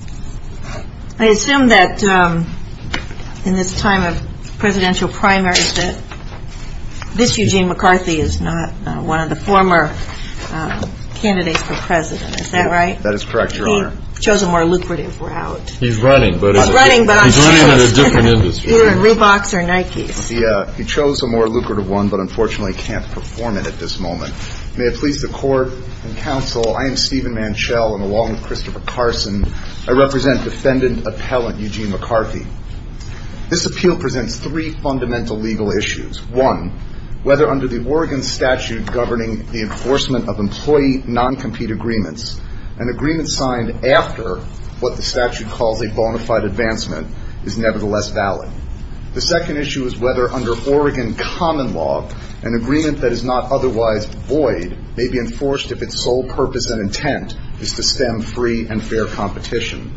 I assume that in this time of presidential primaries that this Eugene McCarthy is not one of the former candidates for president. Is that right? That is correct, Your Honor. He chose a more lucrative route. He's running, but in a different industry. He's running, but he's in Reeboks or Nikes. He chose a more lucrative one, but unfortunately can't perform it at this moment. May it please the Court and Counsel, I am Stephen Manchell, and along with Christopher Carson, I represent Defendant Appellant Eugene McCarthy. This appeal presents three fundamental legal issues. One, whether under the Oregon statute governing the enforcement of employee non-compete agreements, an agreement signed after what the statute calls a bona fide advancement is nevertheless valid. The second issue is whether under Oregon common law, an agreement that is not otherwise void may be enforced if its sole purpose and intent is to stem free and fair competition.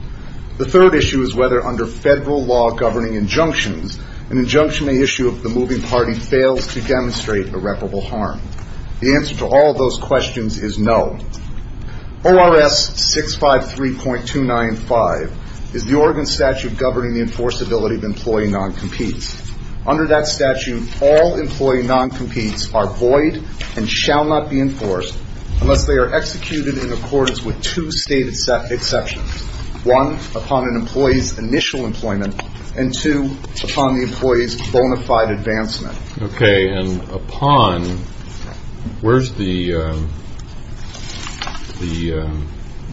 The third issue is whether under federal law governing injunctions, an injunction may issue if the moving party fails to demonstrate irreparable harm. The answer to all of those questions is no. ORS 653.295 is the Oregon statute governing the enforceability of employee non-competes. Under that statute, all employee non-competes are void and shall not be enforced unless they are executed in accordance with two stated exceptions. One, upon an employee's initial employment, and two, upon the employee's bona fide advancement. Okay, and upon, where's the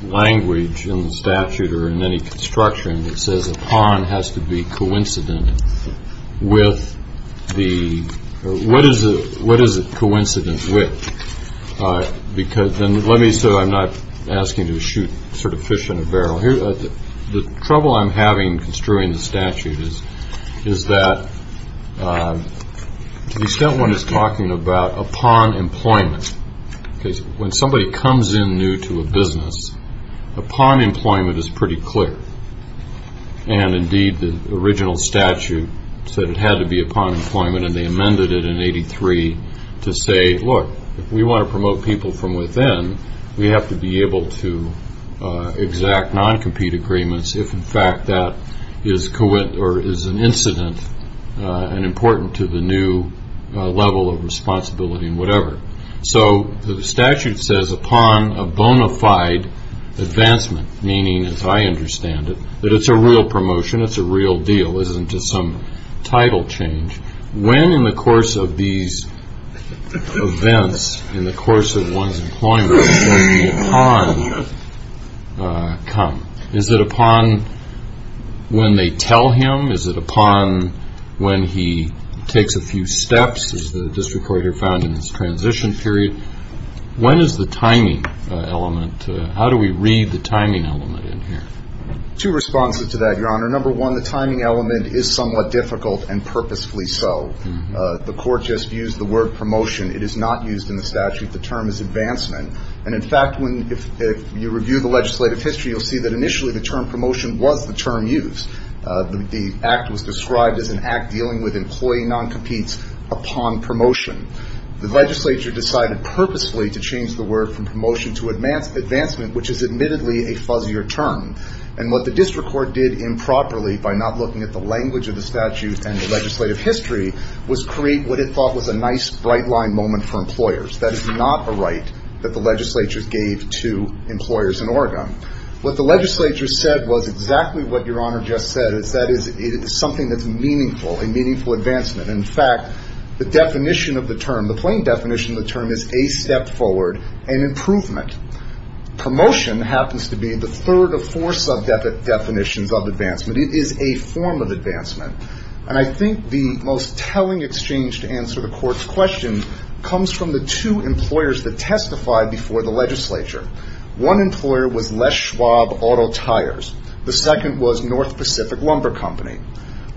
language in the statute or in any construction that says upon has to be coincident with the, or what is it coincident with? Because then, let me, so I'm not asking you to shoot sort of fish in a barrel here. The trouble I'm having construing the statute is that to the extent one is talking about upon employment, because when somebody comes in new to a business, upon employment is pretty clear. And, indeed, the original statute said it had to be upon employment, and they amended it in 83 to say, look, if we want to promote people from within, we have to be able to exact non-compete agreements if, in fact, that is an incident and important to the new level of responsibility and whatever. So, the statute says upon a bona fide advancement, meaning, as I understand it, that it's a real promotion. It's a real deal. It isn't just some title change. When, in the course of these events, in the course of one's employment, does the upon come? Is it upon when they tell him? Is it upon when he takes a few steps, as the district court here found in this transition period? When is the timing element? How do we read the timing element in here? Two responses to that, Your Honor. Number one, the timing element is somewhat difficult and purposefully so. The court just used the word promotion. It is not used in the statute. The term is advancement. And, in fact, when you review the legislative history, you'll see that initially the term promotion was the term used. The act was described as an act dealing with employee non-competes upon promotion. The legislature decided purposefully to change the word from promotion to advancement, which is admittedly a fuzzier term. And what the district court did improperly, by not looking at the language of the statute and the legislative history, was create what it thought was a nice, bright-line moment for employers. What the legislature said was exactly what Your Honor just said. That is, it is something that's meaningful, a meaningful advancement. In fact, the definition of the term, the plain definition of the term is a step forward, an improvement. Promotion happens to be the third of four sub-definitions of advancement. It is a form of advancement. And I think the most telling exchange to answer the court's question comes from the two employers that testified before the legislature. One employer was Les Schwab Auto Tires. The second was North Pacific Lumber Company.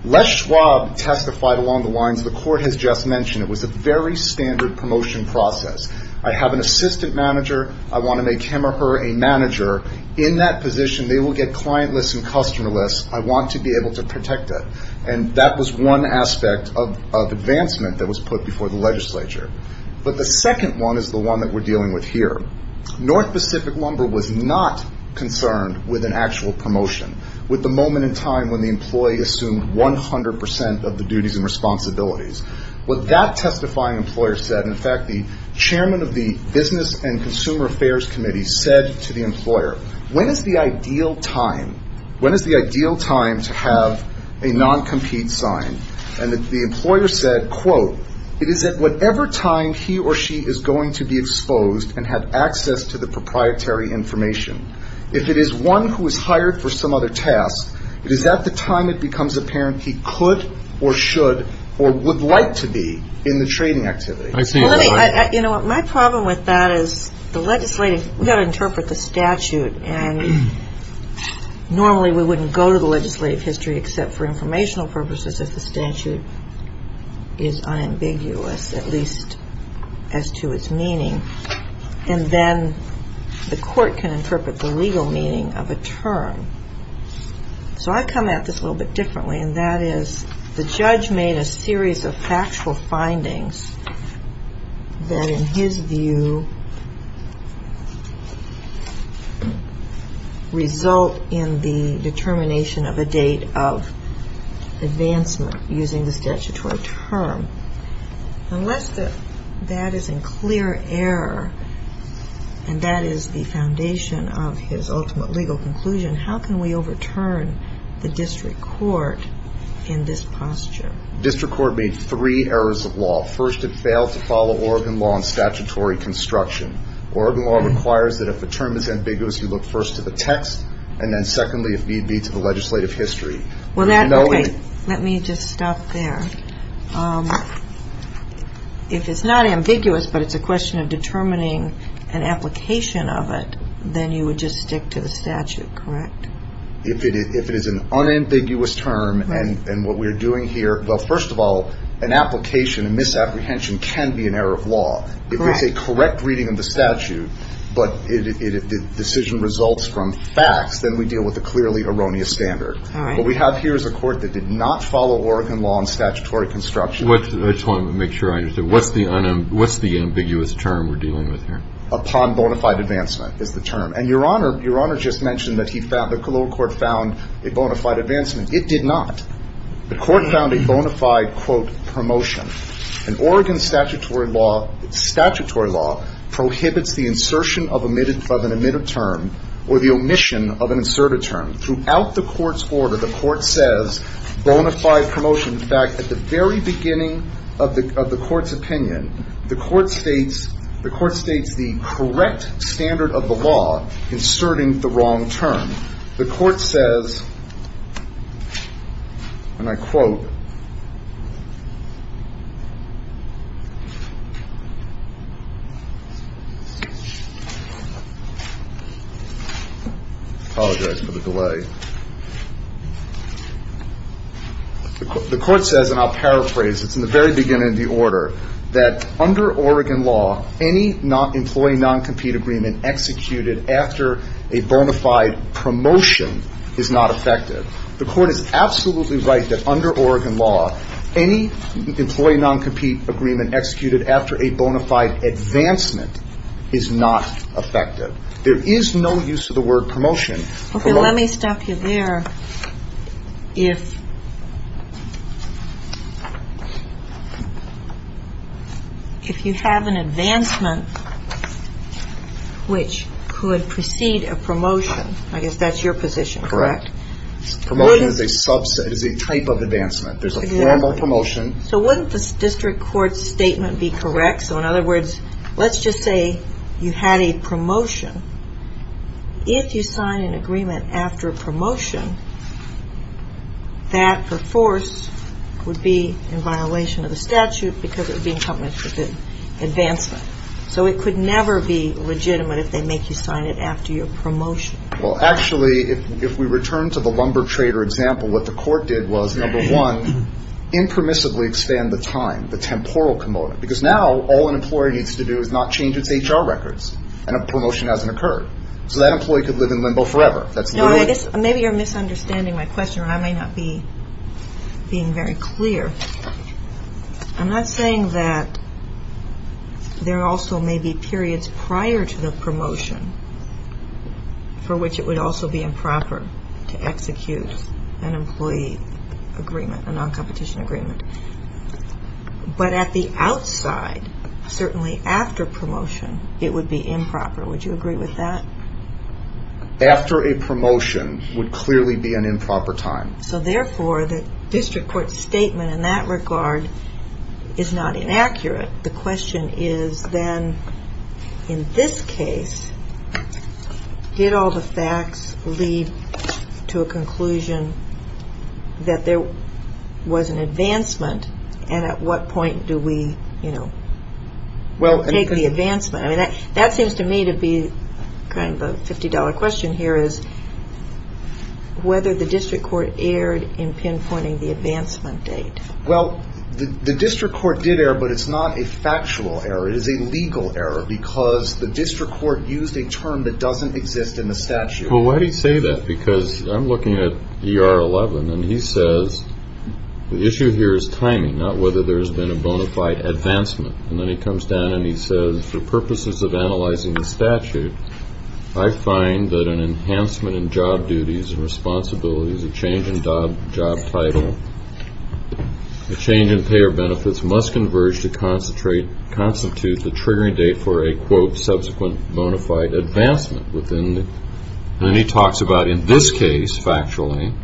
Les Schwab testified along the lines the court has just mentioned. It was a very standard promotion process. I have an assistant manager. I want to make him or her a manager. In that position, they will get clientless and customerless. I want to be able to protect it. And that was one aspect of advancement that was put before the legislature. But the second one is the one that we're dealing with here. North Pacific Lumber was not concerned with an actual promotion, with the moment in time when the employee assumed 100% of the duties and responsibilities. What that testifying employer said, in fact, the chairman of the Business and Consumer Affairs Committee said to the employer, when is the ideal time? When is the ideal time to have a non-compete sign? And the employer said, quote, it is at whatever time he or she is going to be exposed and have access to the proprietary information. If it is one who is hired for some other task, it is at the time it becomes apparent he could or should or would like to be in the trading activity. My problem with that is the legislative, we've got to interpret the statute. And normally we wouldn't go to the legislative history except for informational purposes if the statute is unambiguous, at least as to its meaning. And then the court can interpret the legal meaning of a term. So I come at this a little bit differently, and that is the judge made a series of factual statements using the statutory term. Unless that is in clear error, and that is the foundation of his ultimate legal conclusion, how can we overturn the district court in this posture? District court made three errors of law. First it failed to follow Oregon law and statutory construction. Oregon law requires that if a term is ambiguous, you look first to the text, and then secondly if need be to the legislative history. Well, that's right. Let me just stop there. If it's not ambiguous, but it's a question of determining an application of it, then you would just stick to the statute, correct? If it is an unambiguous term, and what we're doing here, well, first of all, an application, a misapprehension can be an error of law. If it's a correct reading of the statute, but the decision results from facts, then we deal with a clearly erroneous standard. What we have here is a court that did not follow Oregon law and statutory construction. I just want to make sure I understand. What's the ambiguous term we're dealing with here? Upon bona fide advancement is the term. And your Honor just mentioned that the lower court found a bona fide advancement. It did not. The court found a bona fide, quote, promotion. An Oregon statutory law prohibits the insertion of an omitted term or the omission of an inserted term. Throughout the court's order, the court says bona fide promotion. In fact, at the very beginning of the court's opinion, the court states the correct standard of the law inserting the wrong term. The court says, and I quote, I apologize for the delay. The court says, and I'll paraphrase, it's in the very beginning of the order, that under Oregon law, any employee non-compete agreement executed after a bona fide promotion is not effective. The court is absolutely right that under Oregon law, any employee non-compete agreement executed after a bona fide advancement is not effective. There is no use of the word promotion. Okay, let me stop you there. If you have an advancement, which could precede a promotion. I guess that's your position, correct? Promotion is a subset, is a type of advancement. There's a formal promotion. So wouldn't the district court's statement be correct? So in other words, let's just say you had a promotion. If you sign an agreement after a promotion, that, per force, would be in violation of the statute because it would be in complement with the advancement. So it could never be legitimate if they make you sign it after your promotion. Well, actually, if we return to the lumber trader example, what the court did was, number one, impermissibly expand the time, the temporal component. Because now, all an employer needs to do is not change its HR records, and a promotion hasn't occurred. So that employee could live in limbo forever. That's the way it is. Maybe you're misunderstanding my question, or I may not be being very clear. I'm not saying that there also may be periods prior to the promotion for which it would also be improper to execute an employee agreement, a non-competition agreement. But at the outside, certainly after promotion, it would be improper. Would you agree with that? After a promotion would clearly be an improper time. So therefore, the district court statement in that regard is not inaccurate. The question is then, in this case, did all the facts lead to a conclusion that there was an advancement? And at what point do we take the advancement? I mean, that seems to me to be kind of a $50 question here, is whether the district court erred in pinpointing the advancement date. Well, the district court did err, but it's not a factual error. It is a legal error, because the district court used a term that doesn't exist in the statute. Well, why do you say that? Because I'm looking at ER 11, and he says, the issue here is timing, not whether there's been a bona fide advancement. And then he comes down and he says, for purposes of analyzing the statute, I find that an enhancement in job duties and responsibilities, a change in job title, a change in payer benefits must converge to constitute the triggering date for a, quote, subsequent bona fide advancement within the, and then he talks about, in this case, factually,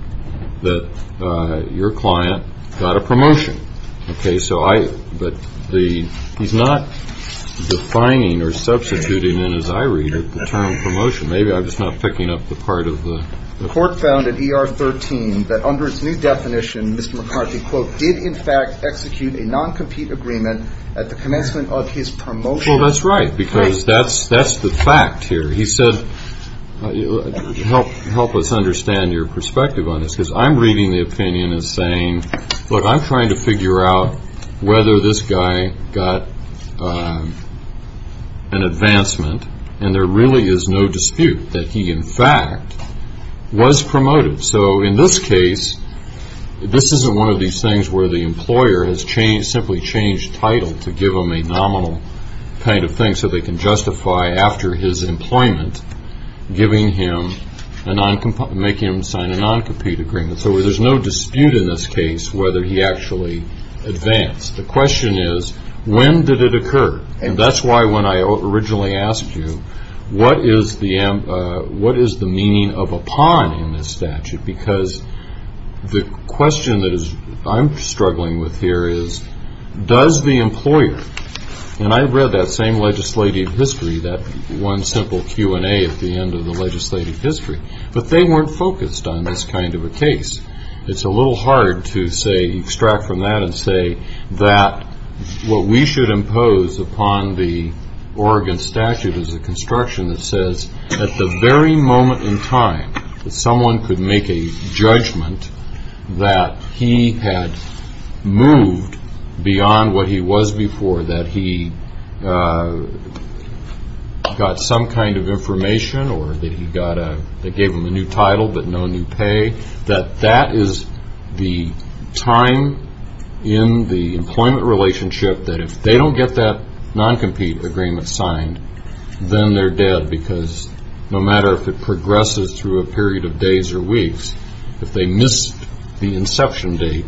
that your client got a promotion. Okay, so I, but the, he's not defining or substituting, and as I read it, the term promotion. Maybe I'm just not picking up the part of the. The court found at ER 13 that under its new definition, Mr. McCarthy, quote, did in fact execute a non-compete agreement at the commencement of his promotion. Well, that's right, because that's the fact here. He said, help us understand your perspective on this, because I'm reading the opinion as saying, look, I'm trying to figure out whether this guy got an advancement, and there really is no dispute that he, in fact, was promoted. So in this case, this isn't one of these things where the employer has changed, simply changed title to give him a nominal kind of thing so they can justify after his employment, giving him a non-compete, make him sign a non-compete agreement. So there's no dispute in this case whether he actually advanced. The question is, when did it occur? And that's why when I originally asked you, what is the, what is the meaning of upon in this statute? Because the question that I'm struggling with here is, does the employer, and I've read that same legislative history, that one simple Q&A at the end of the legislative history, but they weren't focused on this kind of a case. It's a little hard to say, extract from that and say that what we should impose upon the Oregon statute is a construction that says at the very moment in time that someone could make a judgment that he had moved beyond what he was before, that he got some kind of information or that he got a, that gave him a new title but no new pay. That that is the time in the employment relationship that if they don't get that non-compete agreement signed, then they're dead. Because no matter if it progresses through a period of days or weeks, if they missed the inception date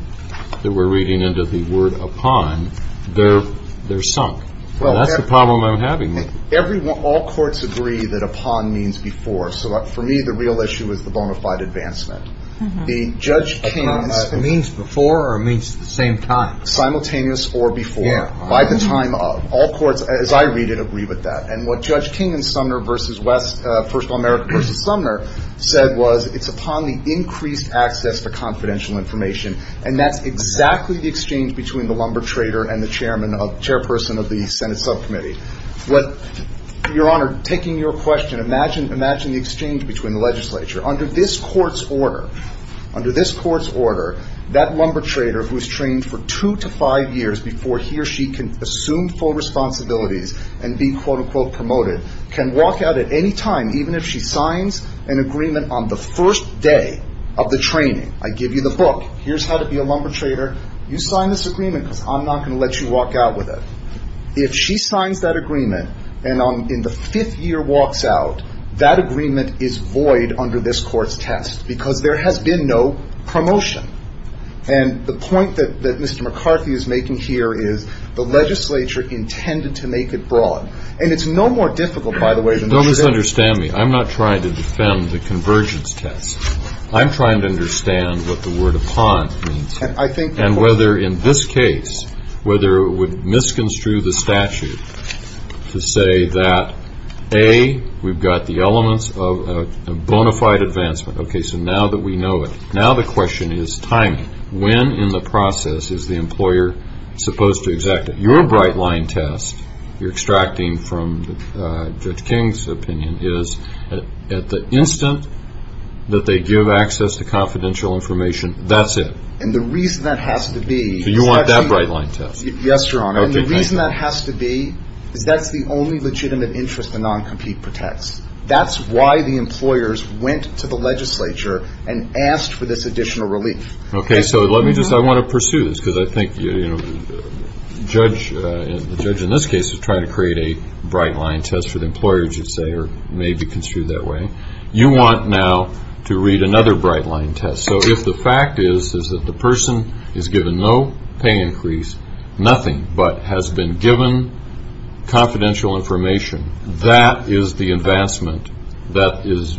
that we're reading into the word upon, they're sunk. That's the problem I'm having. Everyone, all courts agree that upon means before. So for me, the real issue is the bonafide advancement. The Judge King's. Means before or means at the same time? Simultaneous or before. By the time of. All courts, as I read it, agree with that. And what Judge King and Sumner versus West, First America versus Sumner, said was it's upon the increased access for confidential information. And that's exactly the exchange between the lumber trader and the chairman of, chairperson of the Senate subcommittee. What, your honor, taking your question, imagine, imagine the exchange between the legislature. Under this court's order, under this court's order, that lumber trader who's trained for two to five years before he or she can assume full responsibilities and be quote unquote promoted, can walk out at any time, even if she signs an agreement on the first day of the training. I give you the book. Here's how to be a lumber trader. You sign this agreement because I'm not going to let you walk out with it. If she signs that agreement and on, in the fifth year walks out, that agreement is void under this court's test because there has been no promotion. And the point that, that Mr. McCarthy is making here is, the legislature intended to make it broad. And it's no more difficult, by the way, than it should be. Don't misunderstand me. I'm not trying to defend the convergence test. I'm trying to understand what the word upon means. And I think. And whether in this case, whether it would misconstrue the statute to say that, A, we've got the elements of a bona fide advancement. Okay, so now that we know it. Now the question is timing. When in the process is the employer supposed to exact it? Your bright line test, you're extracting from Judge King's opinion, is at the instant that they give access to confidential information, that's it. And the reason that has to be. So you want that bright line test. Yes, your honor. And the reason that has to be is that's the only legitimate interest the non-compete protects. That's why the employers went to the legislature and asked for this additional relief. Okay, so let me just. I want to pursue this because I think, you know, the judge in this case is trying to create a bright line test for the employers, you'd say, or maybe construed that way. You want now to read another bright line test. So if the fact is that the person is given no pay increase, nothing, but has been given confidential information, that is the advancement that is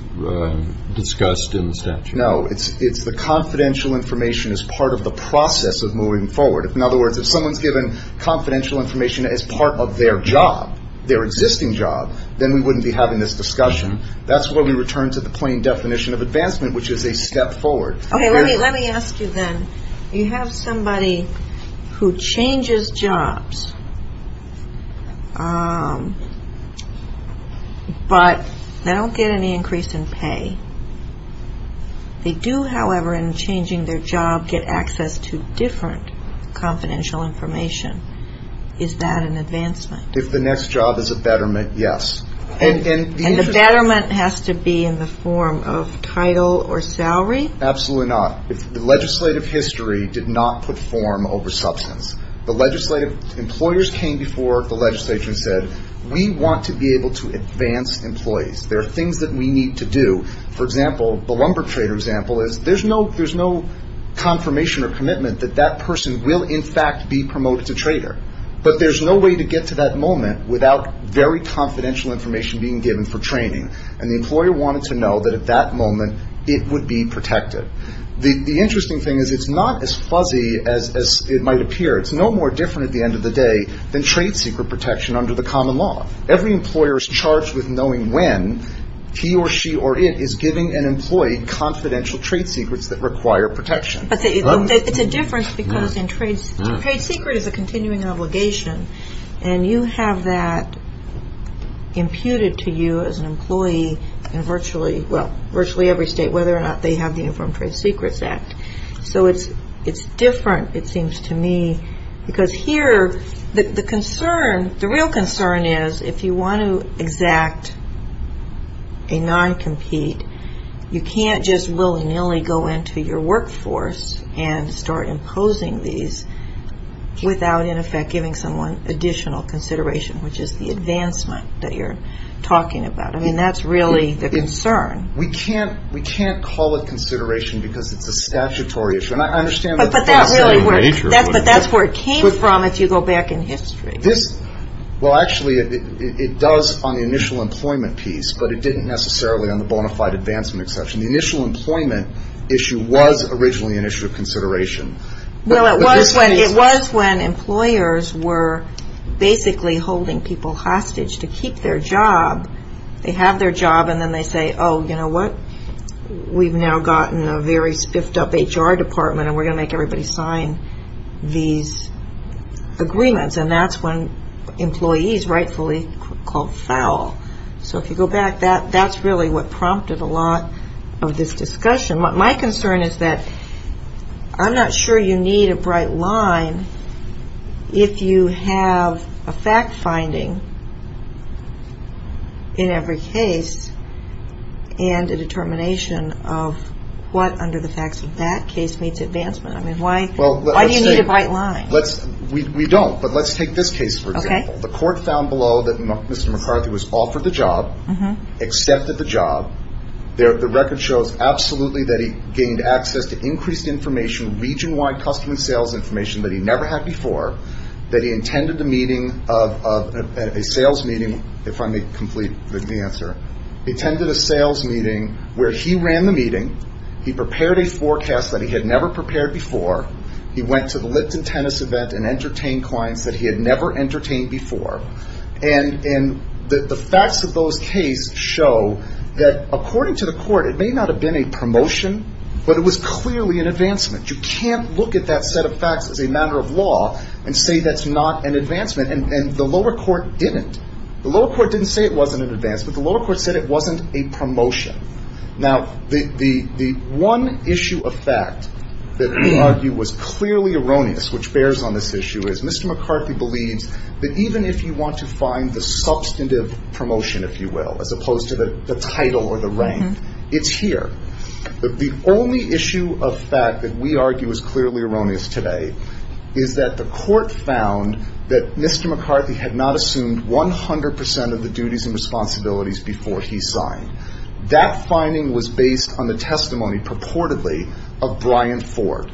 discussed in the statute. No, it's the confidential information as part of the process of moving forward. In other words, if someone's given confidential information as part of their job, their existing job, then we wouldn't be having this discussion. That's where we return to the plain definition of advancement, which is a step forward. Okay, let me ask you then. You have somebody who changes jobs, but they don't get any increase in pay. They do, however, in changing their job, get access to different confidential information. Is that an advancement? If the next job is a betterment, yes. And the betterment has to be in the form of title or salary? Absolutely not. The legislative history did not put form over substance. The legislative employers came before the legislature and said, we want to be able to advance employees. There are things that we need to do. For example, the lumber trader example is, there's no confirmation or commitment that that person will, in fact, be promoted to trader. But there's no way to get to that moment without very confidential information being given for training. And the employer wanted to know that at that moment, it would be protected. The interesting thing is, it's not as fuzzy as it might appear. It's no more different at the end of the day than trade secret protection under the common law. Every employer is charged with knowing when he or she or it is giving an employee confidential trade secrets that require protection. But it's a difference because trade secret is a continuing obligation. And you have that imputed to you as an employee in virtually every state, whether or not they have the Informed Trade Secrets Act. So it's different, it seems to me. Because here, the concern, the real concern is, if you want to exact a non-compete, you can't just willy-nilly go into your workforce and start imposing these without, in effect, giving someone additional consideration, which is the advancement that you're talking about. I mean, that's really the concern. We can't call it consideration because it's a statutory issue. And I understand that that's a major issue. But that's where it came from if you go back in history. This, well, actually, it does on the initial employment piece, but it didn't necessarily on the bona fide advancement exception. The initial employment issue was originally an issue of consideration. Well, it was when employers were basically holding people hostage to keep their job. They have their job and then they say, oh, you know what? We've now gotten a very spiffed up HR department and we're going to make everybody sign these agreements. And that's when employees rightfully called foul. So if you go back, that's really what prompted a lot of this discussion. My concern is that I'm not sure you need a bright line if you have a fact finding in every case and a determination of what under the facts of that case meets advancement. I mean, why do you need a bright line? We don't, but let's take this case, for example. The court found below that Mr. McCarthy was offered the job, accepted the job. The record shows absolutely that he gained access to increased information, region-wide customer sales information that he never had before, that he intended a meeting, a sales meeting, if I may complete the answer, attended a sales meeting where he ran the meeting, he prepared a forecast that he had never prepared before, he went to the Lipton tennis event and entertained clients that he had never entertained before. And the facts of those cases show that according to the court, it may not have been a promotion, but it was clearly an advancement. You can't look at that set of facts as a matter of law and say that's not an advancement. And the lower court didn't. The lower court didn't say it wasn't an advancement. The lower court said it wasn't a promotion. Now, the one issue of fact that we argue was clearly erroneous, which bears on this issue, is Mr. McCarthy believes that even if you want to find the substantive promotion, if you will, as opposed to the title or the rank, it's here. The only issue of fact that we argue is clearly erroneous today is that the court found that Mr. McCarthy had not assumed 100% of the duties and responsibilities before he signed. That finding was based on the testimony, purportedly, of Brian Ford.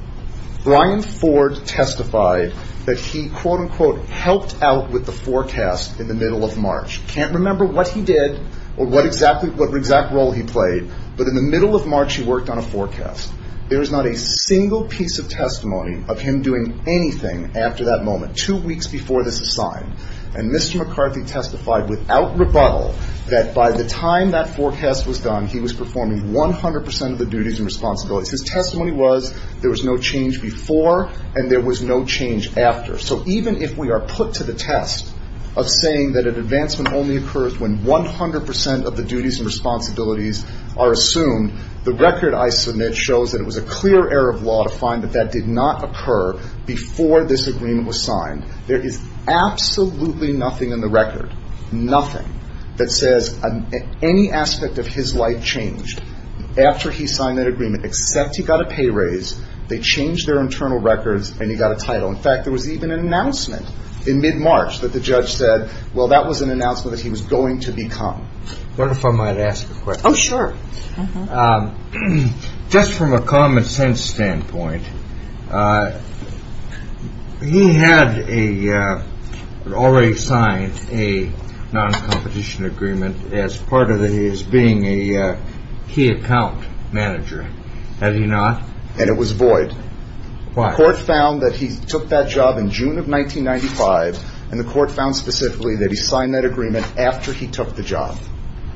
Brian Ford testified that he, quote, unquote, helped out with the forecast in the middle of March. Can't remember what he did or what exact role he played, but in the middle of March he worked on a forecast. There is not a single piece of testimony of him doing anything after that moment, two weeks before this is signed. And Mr. McCarthy testified without rebuttal that by the time that forecast was done, he was performing 100% of the duties and responsibilities. His testimony was there was no change before and there was no change after. So even if we are put to the test of saying that an advancement only occurs when 100% of the duties and responsibilities are assumed, the record I submit shows that it was a clear error of law to find that that did not occur before this agreement was signed. There is absolutely nothing in the record, nothing, that says any aspect of his life changed after he signed that agreement, except he got a pay raise, they changed their internal records, and he got a title. In fact, there was even an announcement in mid-March that the judge said, well, that was an announcement that he was going to become. What if I might ask a question? Oh, sure. Just from a common sense standpoint, he had already signed a non-competition agreement as part of his being a key account manager. Had he not? And it was void. Why? The court found that he took that job in June of 1995, and the court found specifically that he signed that agreement after he took the job.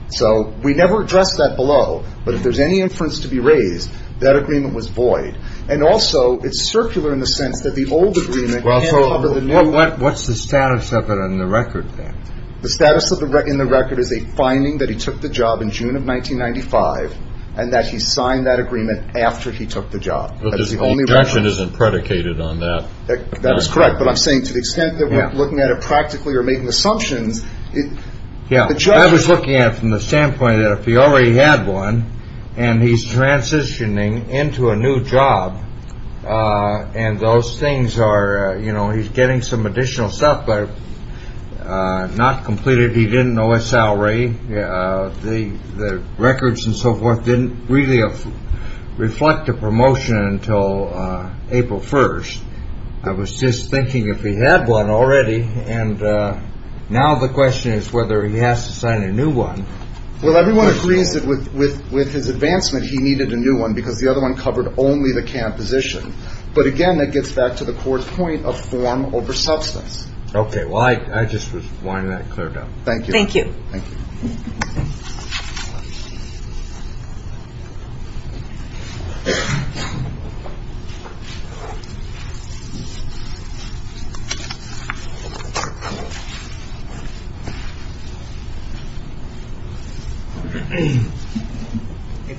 So we never addressed that below, but if there's any inference to be raised, that agreement was void. And also, it's circular in the sense that the old agreement can't cover the new one. What's the status of it in the record, then? The status in the record is a finding that he took the job in June of 1995, and that he signed that agreement after he took the job. But his objection isn't predicated on that. That is correct. But I'm saying to the extent that we're looking at it practically or making assumptions. Yeah, I was looking at it from the standpoint that if he already had one, and he's transitioning into a new job, and those things are, you know, he's getting some additional stuff, but not completed. He didn't know his salary. The records and so forth didn't really reflect the promotion until April 1st. I was just thinking if he had one already, and now the question is whether he has to sign a new one. Well, everyone agrees that with his advancement, he needed a new one, because the other one covered only the camp position. But again, that gets back to the court's point of form over substance. Okay, well, I just was wanting that cleared up. Thank you. Thank you.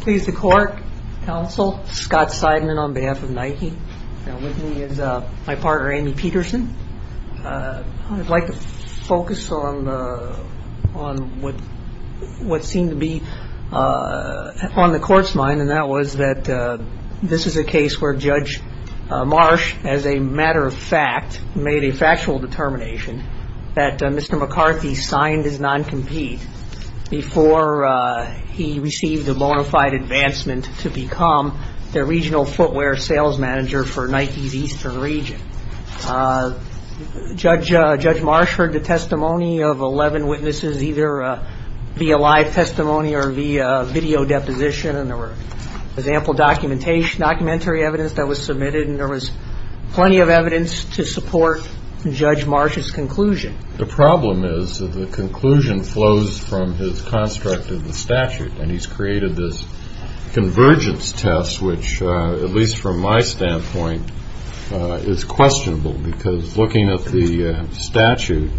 Please, the court, counsel, Scott Seidman on behalf of Nike. Now with me is my partner, Amy Peterson. I'd like to focus on what seemed to be on the court's mind, and that was that this is a case where Judge Marsh, as a matter of fact, made a factual determination that Mr. McCarthy signed his non-compete before he received a bona fide advancement to become the regional footwear sales manager for Nike's eastern region. Judge Marsh heard the testimony of 11 witnesses, either via live testimony or via video deposition, and there was ample documentary evidence that was submitted, and there was plenty of evidence to support Judge Marsh's conclusion. The problem is that the conclusion flows from his construct of the statute, and he's created this convergence test, which, at least from my standpoint, is questionable, because looking at the statute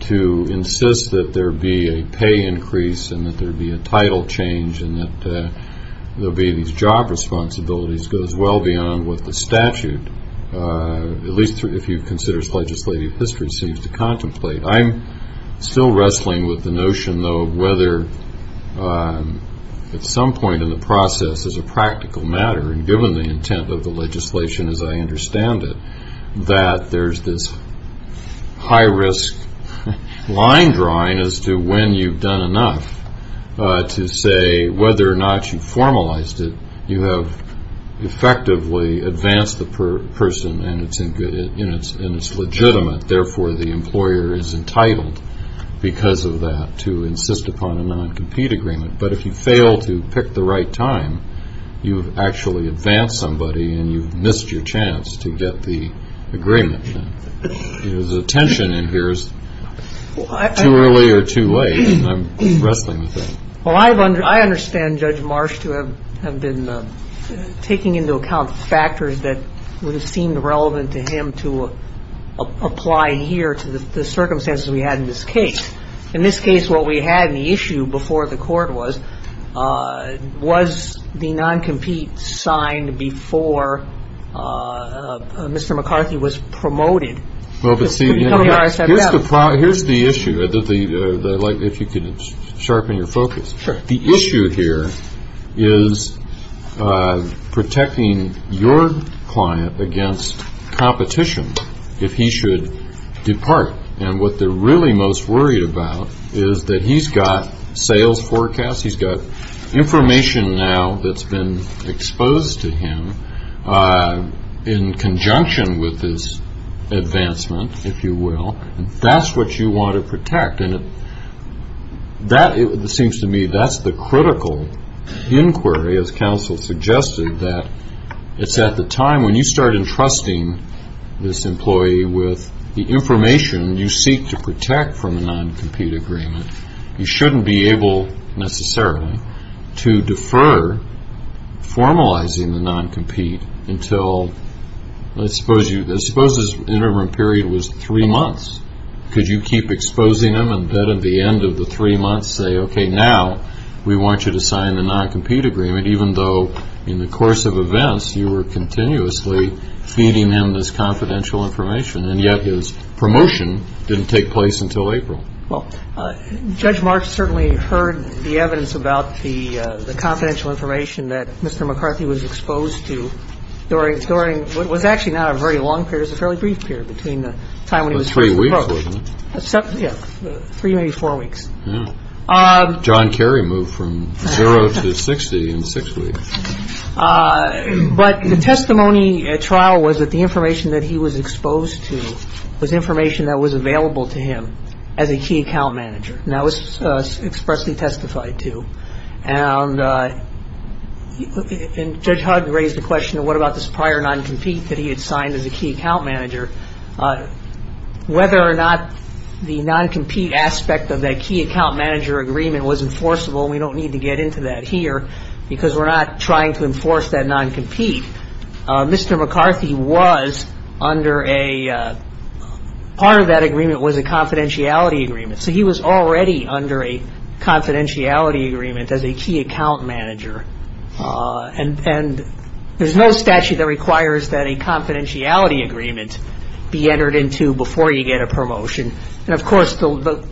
to insist that there be a pay increase and that there be a title change and that there be these job responsibilities goes well beyond what the statute, at least if you consider its legislative history, seems to contemplate. I'm still wrestling with the notion, though, of whether at some point in the process, as a practical matter, and given the intent of the legislation as I understand it, that there's this high-risk line drawing as to when you've done enough to say whether or not you've formalized it, you have effectively advanced the person, and it's legitimate. Therefore, the employer is entitled, because of that, to insist upon a non-compete agreement. But if you fail to pick the right time, you've actually advanced somebody, and you've missed your chance to get the agreement. The tension in here is too early or too late, and I'm wrestling with that. Well, I understand Judge Marsh to have been taking into account factors that would have seemed relevant to him to apply here to the circumstances we had in this case. In this case, what we had in the issue before the court was, was the non-compete signed before Mr. McCarthy was promoted? Here's the issue, if you could sharpen your focus. The issue here is protecting your client against competition if he should depart. And what they're really most worried about is that he's got sales forecasts, he's got information now that's been exposed to him in conjunction with his advancement, if you will, and that's what you want to protect. And it seems to me that's the critical inquiry, as counsel suggested, that it's at the time when you start entrusting this employee with the information you seek to protect from a non-compete agreement. You shouldn't be able, necessarily, to defer formalizing the non-compete until, let's suppose his interim period was three months. Could you keep exposing him and then at the end of the three months say, okay, now we want you to sign the non-compete agreement, even though in the course of events you were continuously feeding him this confidential information, and yet his promotion didn't take place until April? Well, Judge Marsh certainly heard the evidence about the confidential information that Mr. McCarthy was exposed to during what was actually not a very long period, it was a fairly brief period between the time when he was first proposed. About three weeks, wasn't it? Yeah, three, maybe four weeks. Yeah. John Kerry moved from zero to 60 in six weeks. But the testimony at trial was that the information that he was exposed to was information that was available to him as a key account manager, and that was expressly testified to. And Judge Hugg raised the question, what about this prior non-compete that he had signed as a key account manager? Whether or not the non-compete aspect of that key account manager agreement was enforceable, we don't need to get into that here because we're not trying to enforce that non-compete. Mr. McCarthy was under a – part of that agreement was a confidentiality agreement, so he was already under a confidentiality agreement as a key account manager. And there's no statute that requires that a confidentiality agreement be entered into before you get a promotion. And, of course, the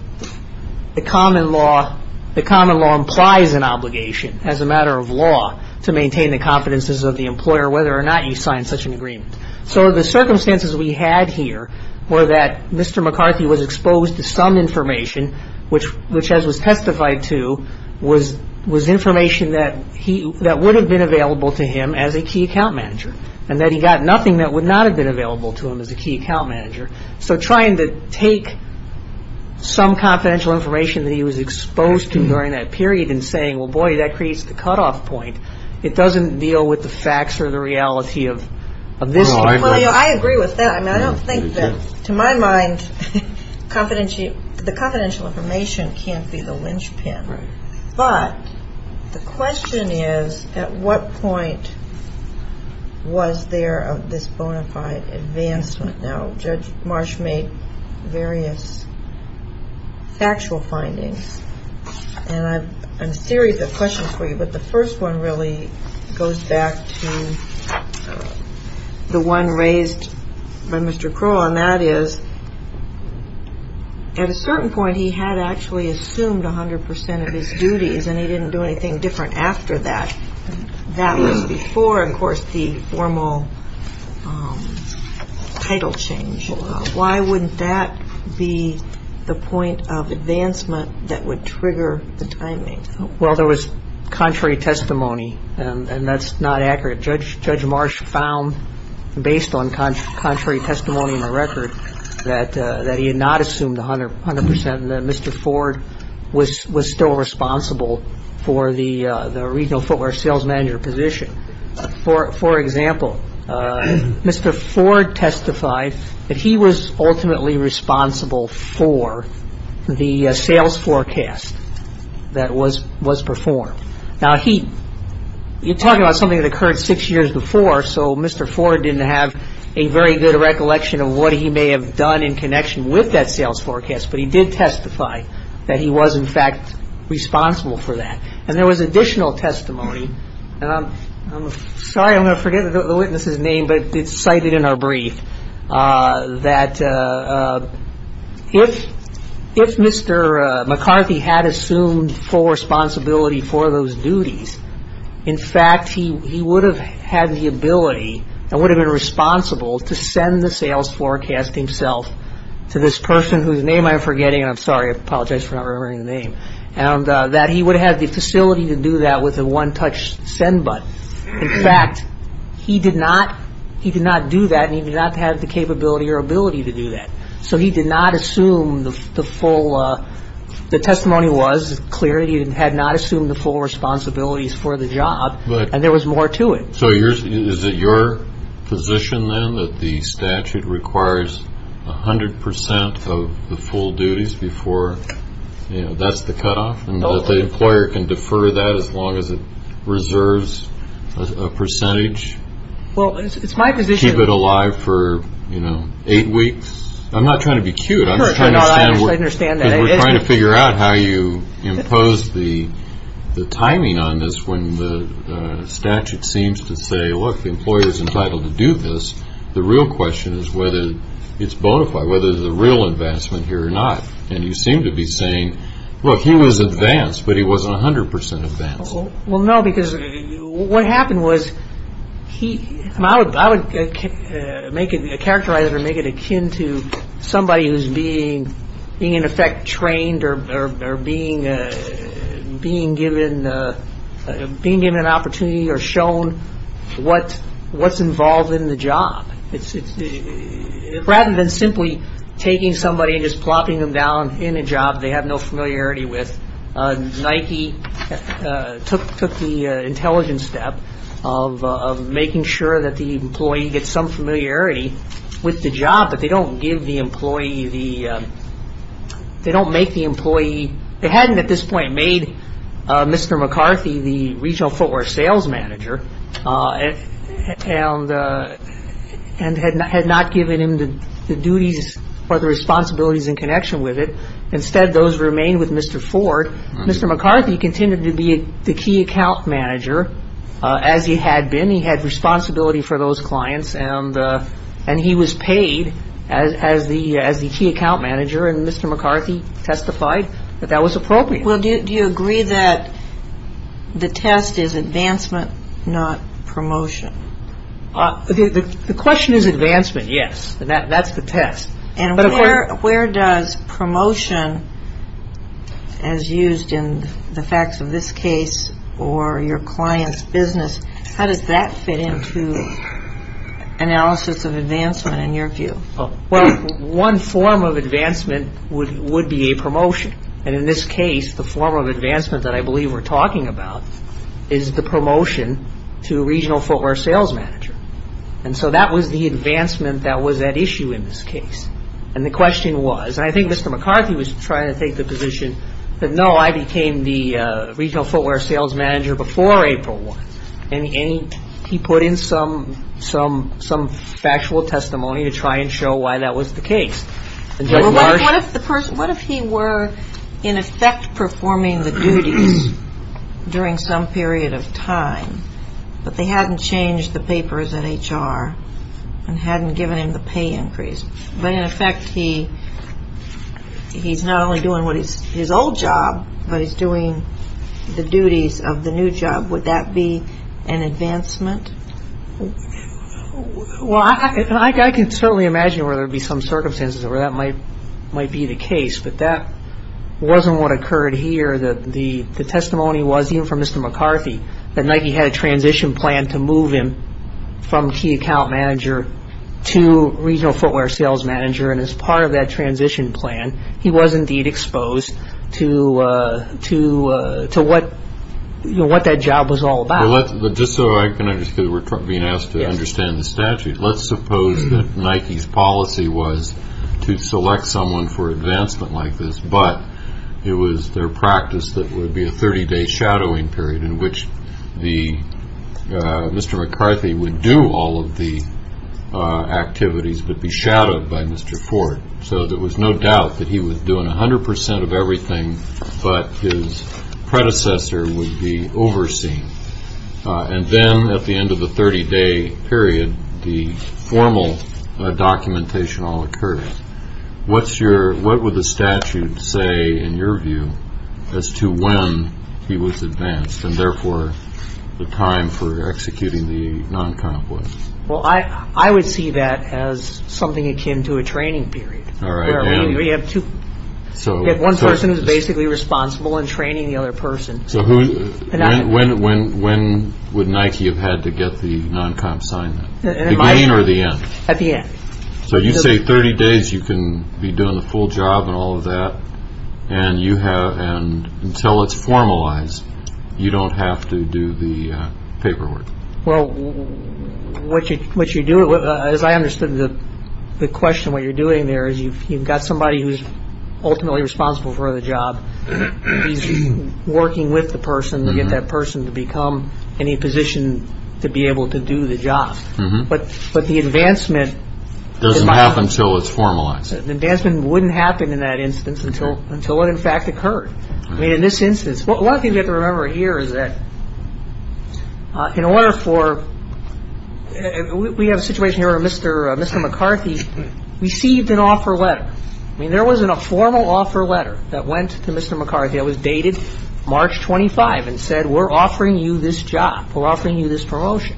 common law implies an obligation as a matter of law to maintain the confidences of the employer whether or not you sign such an agreement. So the circumstances we had here were that Mr. McCarthy was exposed to some information, which, as was testified to, was information that would have been available to him as a key account manager, and that he got nothing that would not have been available to him as a key account manager. So trying to take some confidential information that he was exposed to during that period and saying, well, boy, that creates the cutoff point. It doesn't deal with the facts or the reality of this. I agree with that. I mean, I don't think that, to my mind, the confidential information can't be the linchpin. But the question is, at what point was there this bona fide advancement? Now, Judge Marsh made various factual findings, and I'm serious of questions for you, but the first one really goes back to the one raised by Mr. Kroll, and that is at a certain point he had actually assumed 100 percent of his duties, and he didn't do anything different after that. That was before, of course, the formal title change. Why wouldn't that be the point of advancement that would trigger the timing? Well, there was contrary testimony, and that's not accurate. Judge Marsh found, based on contrary testimony in the record, that he had not assumed 100 percent, and that Mr. Ford was still responsible for the regional footwear sales manager position. For example, Mr. Ford testified that he was ultimately responsible for the sales forecast that was performed. Now, you're talking about something that occurred six years before, so Mr. Ford didn't have a very good recollection of what he may have done in connection with that sales forecast, but he did testify that he was, in fact, responsible for that. And there was additional testimony, and I'm sorry I'm going to forget the witness's name, but it's cited in our brief, that if Mr. McCarthy had assumed full responsibility for those duties, in fact, he would have had the ability and would have been responsible to send the sales forecast himself to this person whose name I'm forgetting, and I'm sorry, I apologize for not remembering the name, and that he would have had the facility to do that with a one-touch send button. In fact, he did not do that, and he did not have the capability or ability to do that. So he did not assume the full, the testimony was clear, he had not assumed the full responsibilities for the job, and there was more to it. So is it your position, then, that the statute requires 100% of the full duties before, you know, that's the cutoff, and that the employer can defer that as long as it reserves a percentage? Well, it's my position. Keep it alive for, you know, eight weeks? I'm not trying to be cute, I'm just trying to figure out how you impose the timing on this when the statute seems to say, look, the employer's entitled to do this, the real question is whether it's bona fide, whether there's a real advancement here or not, and you seem to be saying, look, he was advanced, but he wasn't 100% advanced. Well, no, because what happened was he, I would make it, characterize it or make it akin to somebody who's being, in effect, trained or being given an opportunity or shown what's involved in the job. Rather than simply taking somebody and just plopping them down in a job they have no familiarity with, Nike took the intelligent step of making sure that the employee gets some familiarity with the job, but they don't give the employee the, they don't make the employee, they hadn't at this point made Mr. McCarthy the regional footwear sales manager and had not given him the duties or the responsibilities in connection with it. Instead, those remained with Mr. Ford. Mr. McCarthy continued to be the key account manager, as he had been. He had responsibility for those clients, and he was paid as the key account manager, and Mr. McCarthy testified that that was appropriate. Well, do you agree that the test is advancement, not promotion? The question is advancement, yes, and that's the test. And where does promotion, as used in the facts of this case or your client's business, how does that fit into analysis of advancement in your view? Well, one form of advancement would be a promotion, and in this case, the form of advancement that I believe we're talking about is the promotion to regional footwear sales manager, and so that was the advancement that was at issue in this case, and the question was, and I think Mr. McCarthy was trying to take the position that, no, I became the regional footwear sales manager before April 1st, and he put in some factual testimony to try and show why that was the case. Well, what if the person, what if he were in effect performing the duties during some period of time, but they hadn't changed the papers at HR and hadn't given him the pay increase? But in effect, he's not only doing his old job, but he's doing the duties of the new job. Would that be an advancement? Well, I can certainly imagine where there would be some circumstances where that might be the case, but that wasn't what occurred here. The testimony was, even from Mr. McCarthy, that Nike had a transition plan to move him from key account manager to regional footwear sales manager, and as part of that transition plan, he was indeed exposed to what that job was all about. Just so I can understand, because we're being asked to understand the statute, let's suppose that Nike's policy was to select someone for advancement like this, but it was their practice that it would be a 30-day shadowing period in which Mr. McCarthy would do all of the activities but be shadowed by Mr. Ford. So there was no doubt that he was doing 100 percent of everything, but his predecessor would be overseen. And then at the end of the 30-day period, the formal documentation all occurred. What would the statute say, in your view, as to when he was advanced and therefore the time for executing the non-comp was? Well, I would see that as something akin to a training period. We have one person who's basically responsible in training the other person. So when would Nike have had to get the non-comp signed? At the beginning or the end? At the end. So you say 30 days, you can be doing the full job and all of that, and until it's formalized, you don't have to do the paperwork. Well, as I understood the question, what you're doing there is you've got somebody who's ultimately responsible for the job. He's working with the person to get that person to become in a position to be able to do the job. But the advancement doesn't happen until it's formalized. The advancement wouldn't happen in that instance until it, in fact, occurred. I mean, in this instance, one thing you have to remember here is that in order for – we have a situation here where Mr. McCarthy received an offer letter. I mean, there was a formal offer letter that went to Mr. McCarthy that was dated March 25 and said, we're offering you this job, we're offering you this promotion.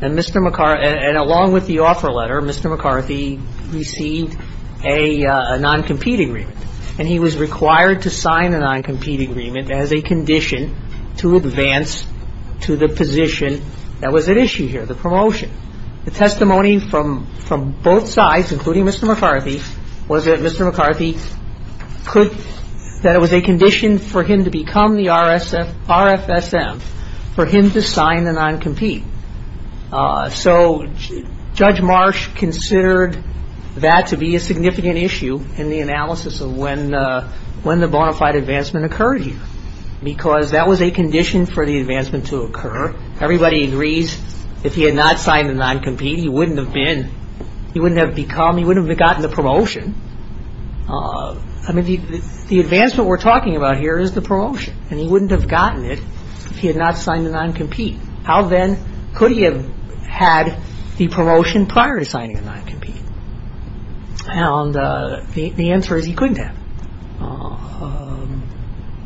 And Mr. McCarthy – and along with the offer letter, Mr. McCarthy received a non-compete agreement. And he was required to sign a non-compete agreement as a condition to advance to the position that was at issue here, the promotion. The testimony from both sides, including Mr. McCarthy, was that Mr. McCarthy could – So Judge Marsh considered that to be a significant issue in the analysis of when the – when the bona fide advancement occurred here because that was a condition for the advancement to occur. Everybody agrees if he had not signed the non-compete, he wouldn't have been – he wouldn't have become – he wouldn't have gotten the promotion. I mean, the advancement we're talking about here is the promotion, and he wouldn't have gotten it if he had not signed the non-compete. How then could he have had the promotion prior to signing the non-compete? And the answer is he couldn't have.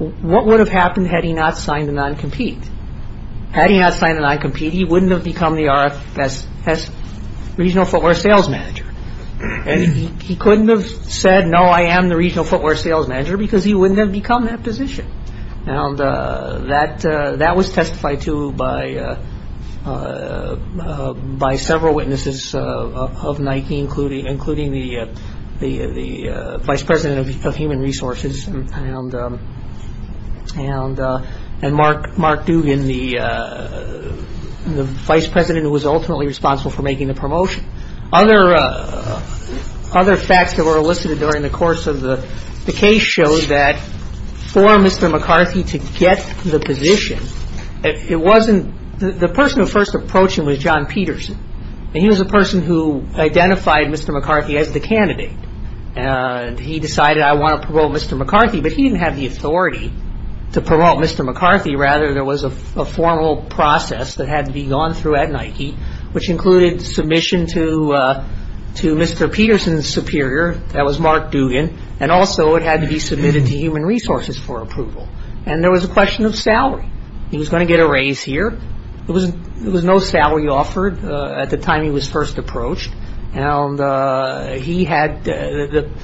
What would have happened had he not signed the non-compete? Had he not signed the non-compete, he wouldn't have become the RFS, Regional Footwear Sales Manager. And he couldn't have said, no, I am the Regional Footwear Sales Manager, because he wouldn't have become that position. And that was testified to by several witnesses of Nike, including the Vice President of Human Resources and Mark Dugan, the Vice President who was ultimately responsible for making the promotion. Other facts that were elicited during the course of the case show that for Mr. McCarthy to get the position, it wasn't – the person who first approached him was John Peterson, and he was the person who identified Mr. McCarthy as the candidate. And he decided, I want to promote Mr. McCarthy, but he didn't have the authority to promote Mr. McCarthy. Rather, there was a formal process that had to be gone through at Nike, which included submission to Mr. Peterson's superior, that was Mark Dugan, and also it had to be submitted to Human Resources for approval. And there was a question of salary. He was going to get a raise here. There was no salary offered at the time he was first approached. And he had –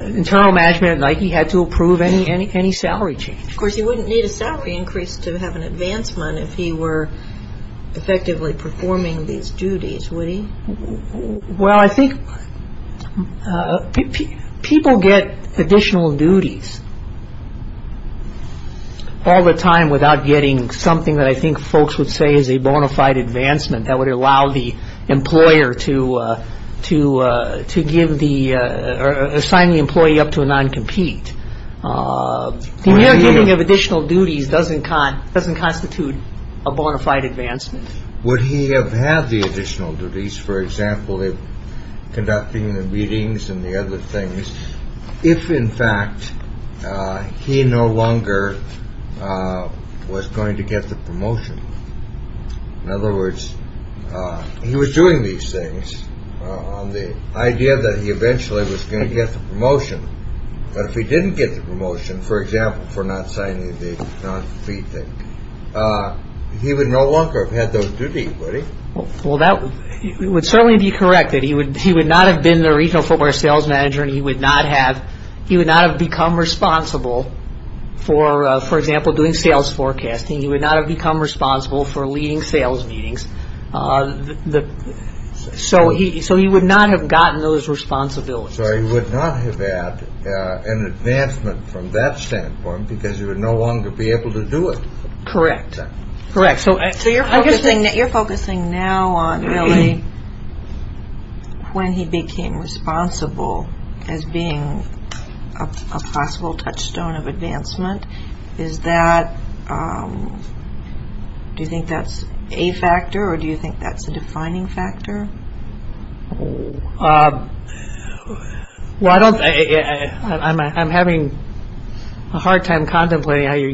internal management at Nike had to approve any salary change. Of course, he wouldn't need a salary increase to have an advancement if he were effectively performing these duties, would he? Well, I think people get additional duties all the time without getting something that I think folks would say is a bona fide advancement that would allow the employer to give the – or assign the employee up to a non-compete. The mere giving of additional duties doesn't constitute a bona fide advancement. Would he have had the additional duties, for example, of conducting the meetings and the other things, if, in fact, he no longer was going to get the promotion? In other words, he was doing these things on the idea that he eventually was going to get the promotion. But if he didn't get the promotion, for example, for not signing the non-compete thing, he would no longer have had those duties, would he? Well, that would certainly be corrected. He would not have been the regional footwear sales manager and he would not have become responsible for, for example, doing sales forecasting. He would not have become responsible for leading sales meetings. So he would not have gotten those responsibilities. So he would not have had an advancement from that standpoint because he would no longer be able to do it. Correct. Correct. So you're focusing now on really when he became responsible as being a possible touchstone of advancement. Is that – do you think that's a factor or do you think that's a defining factor? Well, I don't – I'm having a hard time contemplating how you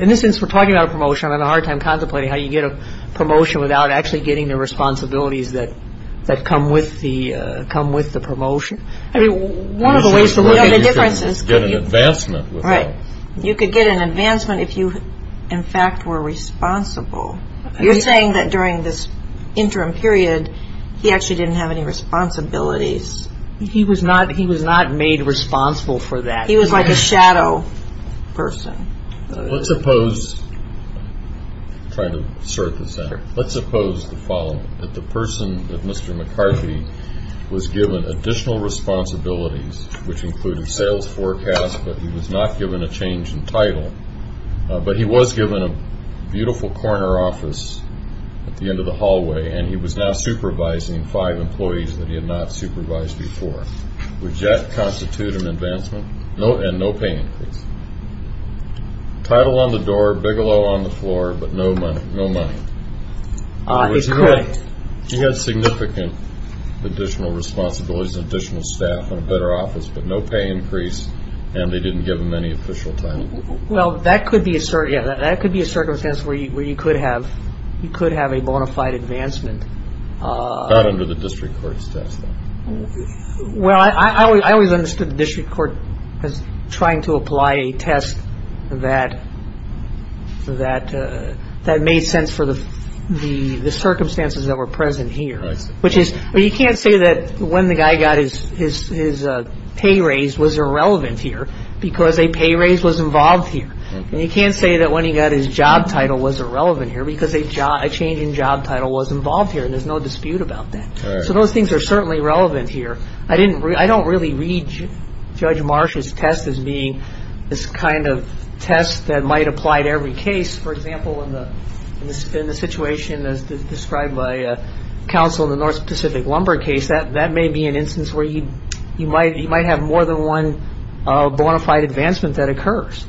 – in the sense we're talking about a promotion, I'm having a hard time contemplating how you get a promotion without actually getting the responsibilities that come with the promotion. I mean, one of the ways to look at the difference is – You could get an advancement without – Right. You could get an advancement if you, in fact, were responsible. You're saying that during this interim period, he actually didn't have any responsibilities. He was not made responsible for that. He was like a shadow person. Let's suppose – I'm trying to assert this now. Let's suppose the following, that the person, Mr. McCarthy, was given additional responsibilities, which included sales forecast, but he was not given a change in title, but he was given a beautiful corner office at the end of the hallway, and he was now supervising five employees that he had not supervised before. Would that constitute an advancement? And no pay increase. Title on the door, Bigelow on the floor, but no money. He had significant additional responsibilities and additional staff and a better office, but no pay increase, and they didn't give him any official title. Well, that could be a – yeah, that could be a circumstance where you could have – you could have a bona fide advancement. Not under the district court's test, though. Well, I always understood the district court as trying to apply a test that – that made sense for the circumstances that were present here. But you can't say that when the guy got his pay raise was irrelevant here because a pay raise was involved here. And you can't say that when he got his job title was irrelevant here because a change in job title was involved here, and there's no dispute about that. So those things are certainly relevant here. I don't really read Judge Marsh's test as being this kind of test that might apply to every case. For example, in the situation as described by counsel in the North Pacific Lumber case, that may be an instance where you might have more than one bona fide advancement that occurs.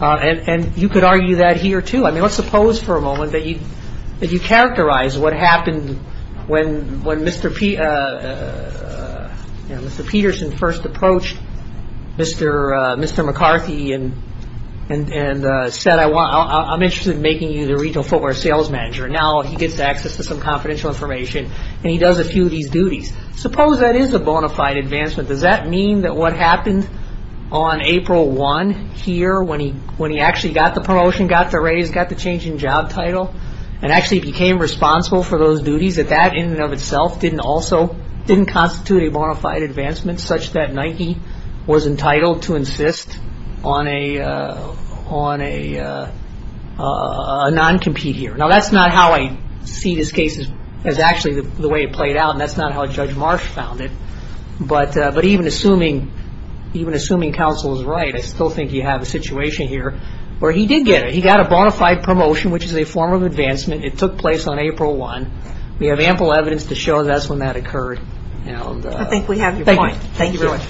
And you could argue that here, too. I mean, let's suppose for a moment that you characterize what happened when Mr. Peterson first approached Mr. McCarthy and said, I'm interested in making you the retail footwear sales manager. Now he gets access to some confidential information, and he does a few of these duties. Suppose that is a bona fide advancement. Does that mean that what happened on April 1 here when he actually got the promotion, got the raise, got the change in job title, and actually became responsible for those duties, that that in and of itself didn't constitute a bona fide advancement such that Nike was entitled to insist on a non-compete here. Now that's not how I see this case as actually the way it played out, and that's not how Judge Marsh found it. But even assuming counsel is right, I still think you have a situation here where he did get it. He got a bona fide promotion, which is a form of advancement. It took place on April 1. We have ample evidence to show that's when that occurred. I think we have your point. Thank you very much.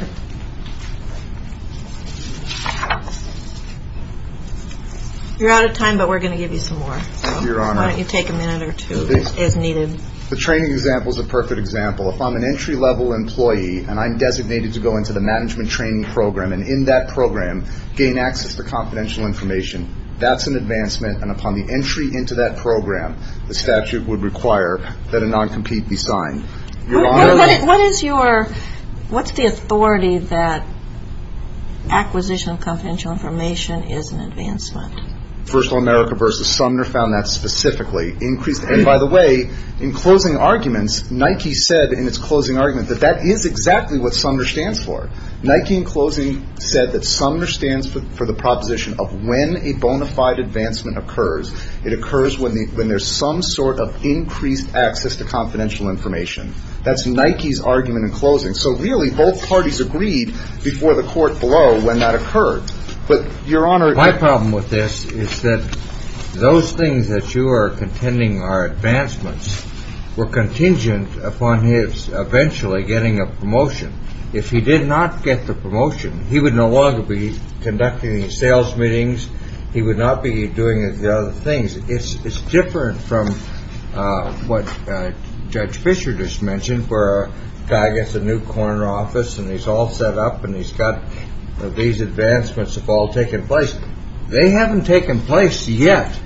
You're out of time, but we're going to give you some more. Your Honor. Why don't you take a minute or two as needed. The training example is a perfect example. If I'm an entry-level employee and I'm designated to go into the management training program and in that program gain access to confidential information, that's an advancement. And upon the entry into that program, the statute would require that a non-compete be signed. What's the authority that acquisition of confidential information is an advancement? First Law America v. Sumner found that specifically. And by the way, in closing arguments, Nike said in its closing argument that that is exactly what Sumner stands for. Nike in closing said that Sumner stands for the proposition of when a bona fide advancement occurs, it occurs when there's some sort of increased access to confidential information. That's Nike's argument in closing. So really both parties agreed before the court below when that occurred. But, Your Honor. My problem with this is that those things that you are contending are advancements were contingent upon his eventually getting a promotion. If he did not get the promotion, he would no longer be conducting sales meetings. He would not be doing the other things. It's different from what Judge Fischer just mentioned where a guy gets a new corner office and he's all set up and he's got these advancements have all taken place. They haven't taken place yet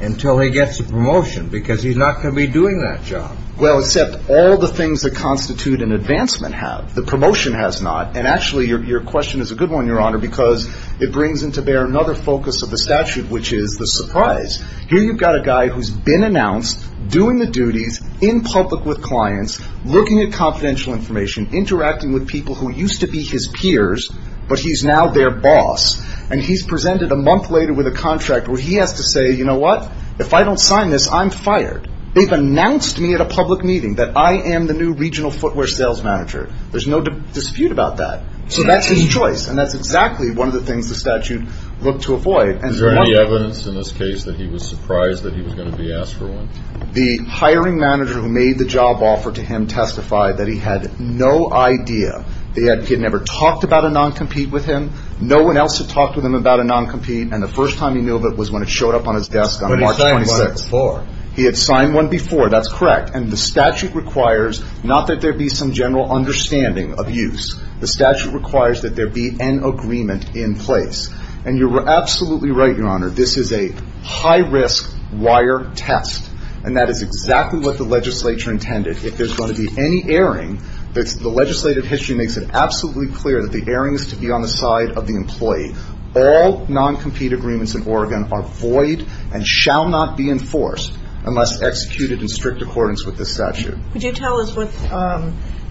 until he gets a promotion because he's not going to be doing that job. Well, except all the things that constitute an advancement have. The promotion has not. And actually your question is a good one, Your Honor, because it brings into bear another focus of the statute, which is the surprise. Here you've got a guy who's been announced doing the duties in public with clients, looking at confidential information, interacting with people who used to be his peers, but he's now their boss. And he's presented a month later with a contract where he has to say, you know what? If I don't sign this, I'm fired. They've announced to me at a public meeting that I am the new regional footwear sales manager. There's no dispute about that. So that's his choice, and that's exactly one of the things the statute looked to avoid. Is there any evidence in this case that he was surprised that he was going to be asked for one? The hiring manager who made the job offer to him testified that he had no idea. He had never talked about a non-compete with him. No one else had talked with him about a non-compete, and the first time he knew of it was when it showed up on his desk on March 26th. But he had signed one before. He had signed one before. That's correct. And the statute requires not that there be some general understanding of use. The statute requires that there be an agreement in place. And you're absolutely right, Your Honor. This is a high-risk wire test, and that is exactly what the legislature intended. If there's going to be any erring, the legislative history makes it absolutely clear that the erring is to be on the side of the employee. All non-compete agreements in Oregon are void and shall not be enforced unless executed in strict accordance with the statute. Could you tell us what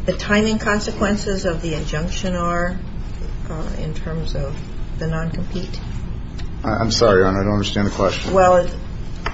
the timing consequences of the injunction are in terms of the non-compete? I'm sorry, Your Honor. I don't understand the question. Well,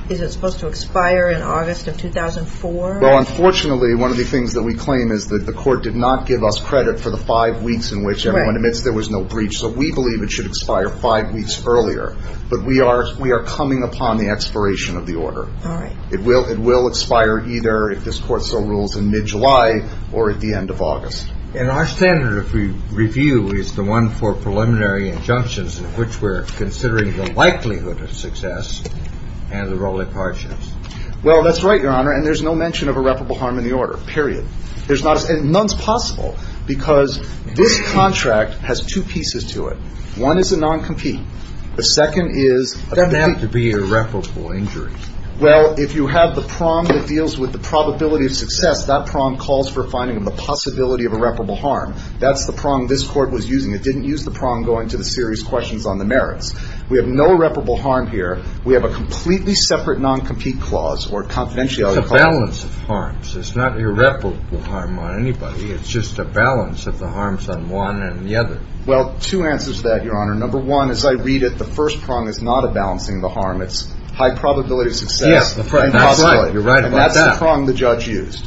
is it supposed to expire in August of 2004? Well, unfortunately, one of the things that we claim is that the court did not give us credit for the five weeks in which everyone admits there was no breach. So we believe it should expire five weeks earlier. But we are coming upon the expiration of the order. All right. It will expire either if this Court so rules in mid-July or at the end of August. And our standard of review is the one for preliminary injunctions in which we're considering the likelihood of success and the role it partures. Well, that's right, Your Honor. And there's no mention of irreparable harm in the order, period. There's not as – and none's possible because this contract has two pieces to it. One is a non-compete. The second is a compete. So there's not to be irreparable injury. Well, if you have the prong that deals with the probability of success, that prong calls for finding the possibility of irreparable harm. That's the prong this Court was using. It didn't use the prong going to the serious questions on the merits. We have no irreparable harm here. We have a completely separate non-compete clause or confidentiality clause. It's a balance of harms. It's not irreparable harm on anybody. It's just a balance of the harms on one and the other. Well, two answers to that, Your Honor. Number one, as I read it, the first prong is not a balancing of the harm. It's high probability of success. Yes, that's right. You're right about that. And that's the prong the judge used.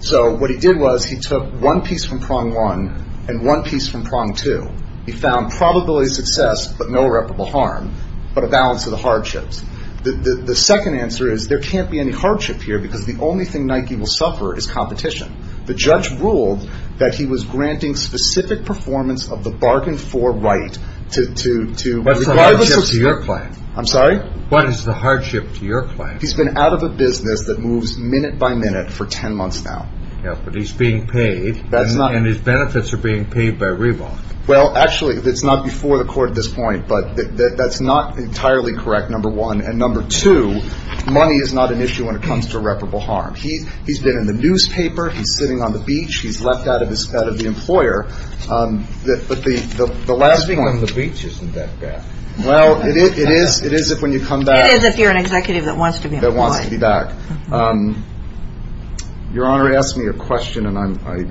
So what he did was he took one piece from prong one and one piece from prong two. He found probability of success but no irreparable harm but a balance of the hardships. The second answer is there can't be any hardship here because the only thing Nike will suffer is competition. The judge ruled that he was granting specific performance of the bargain for right to regardless of... What's the hardship to your client? I'm sorry? What is the hardship to your client? He's been out of a business that moves minute by minute for 10 months now. Yeah, but he's being paid. That's not... And his benefits are being paid by Reebok. Well, actually, it's not before the court at this point, but that's not entirely correct, number one. And number two, money is not an issue when it comes to irreparable harm. He's been in the newspaper. He's sitting on the beach. He's left out of the employer. But the last point... Sitting on the beach isn't that bad. Well, it is if when you come back... It is if you're an executive that wants to be employed. That wants to be back. Your Honor, he asked me a question and I...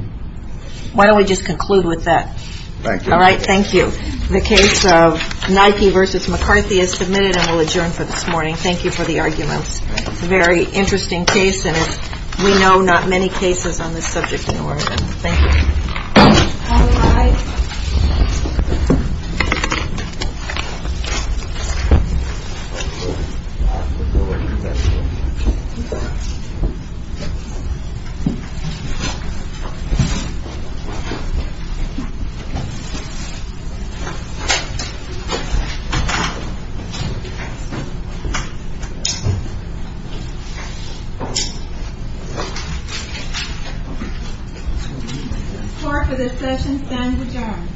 Why don't we just conclude with that? Thank you. All right, thank you. The case of Nike v. McCarthy is submitted and will adjourn for this morning. Thank you for the arguments. It's a very interesting case, and as we know, not many cases on this subject in Oregon. Thank you. The court for this session stands adjourned. The Court is adjourned.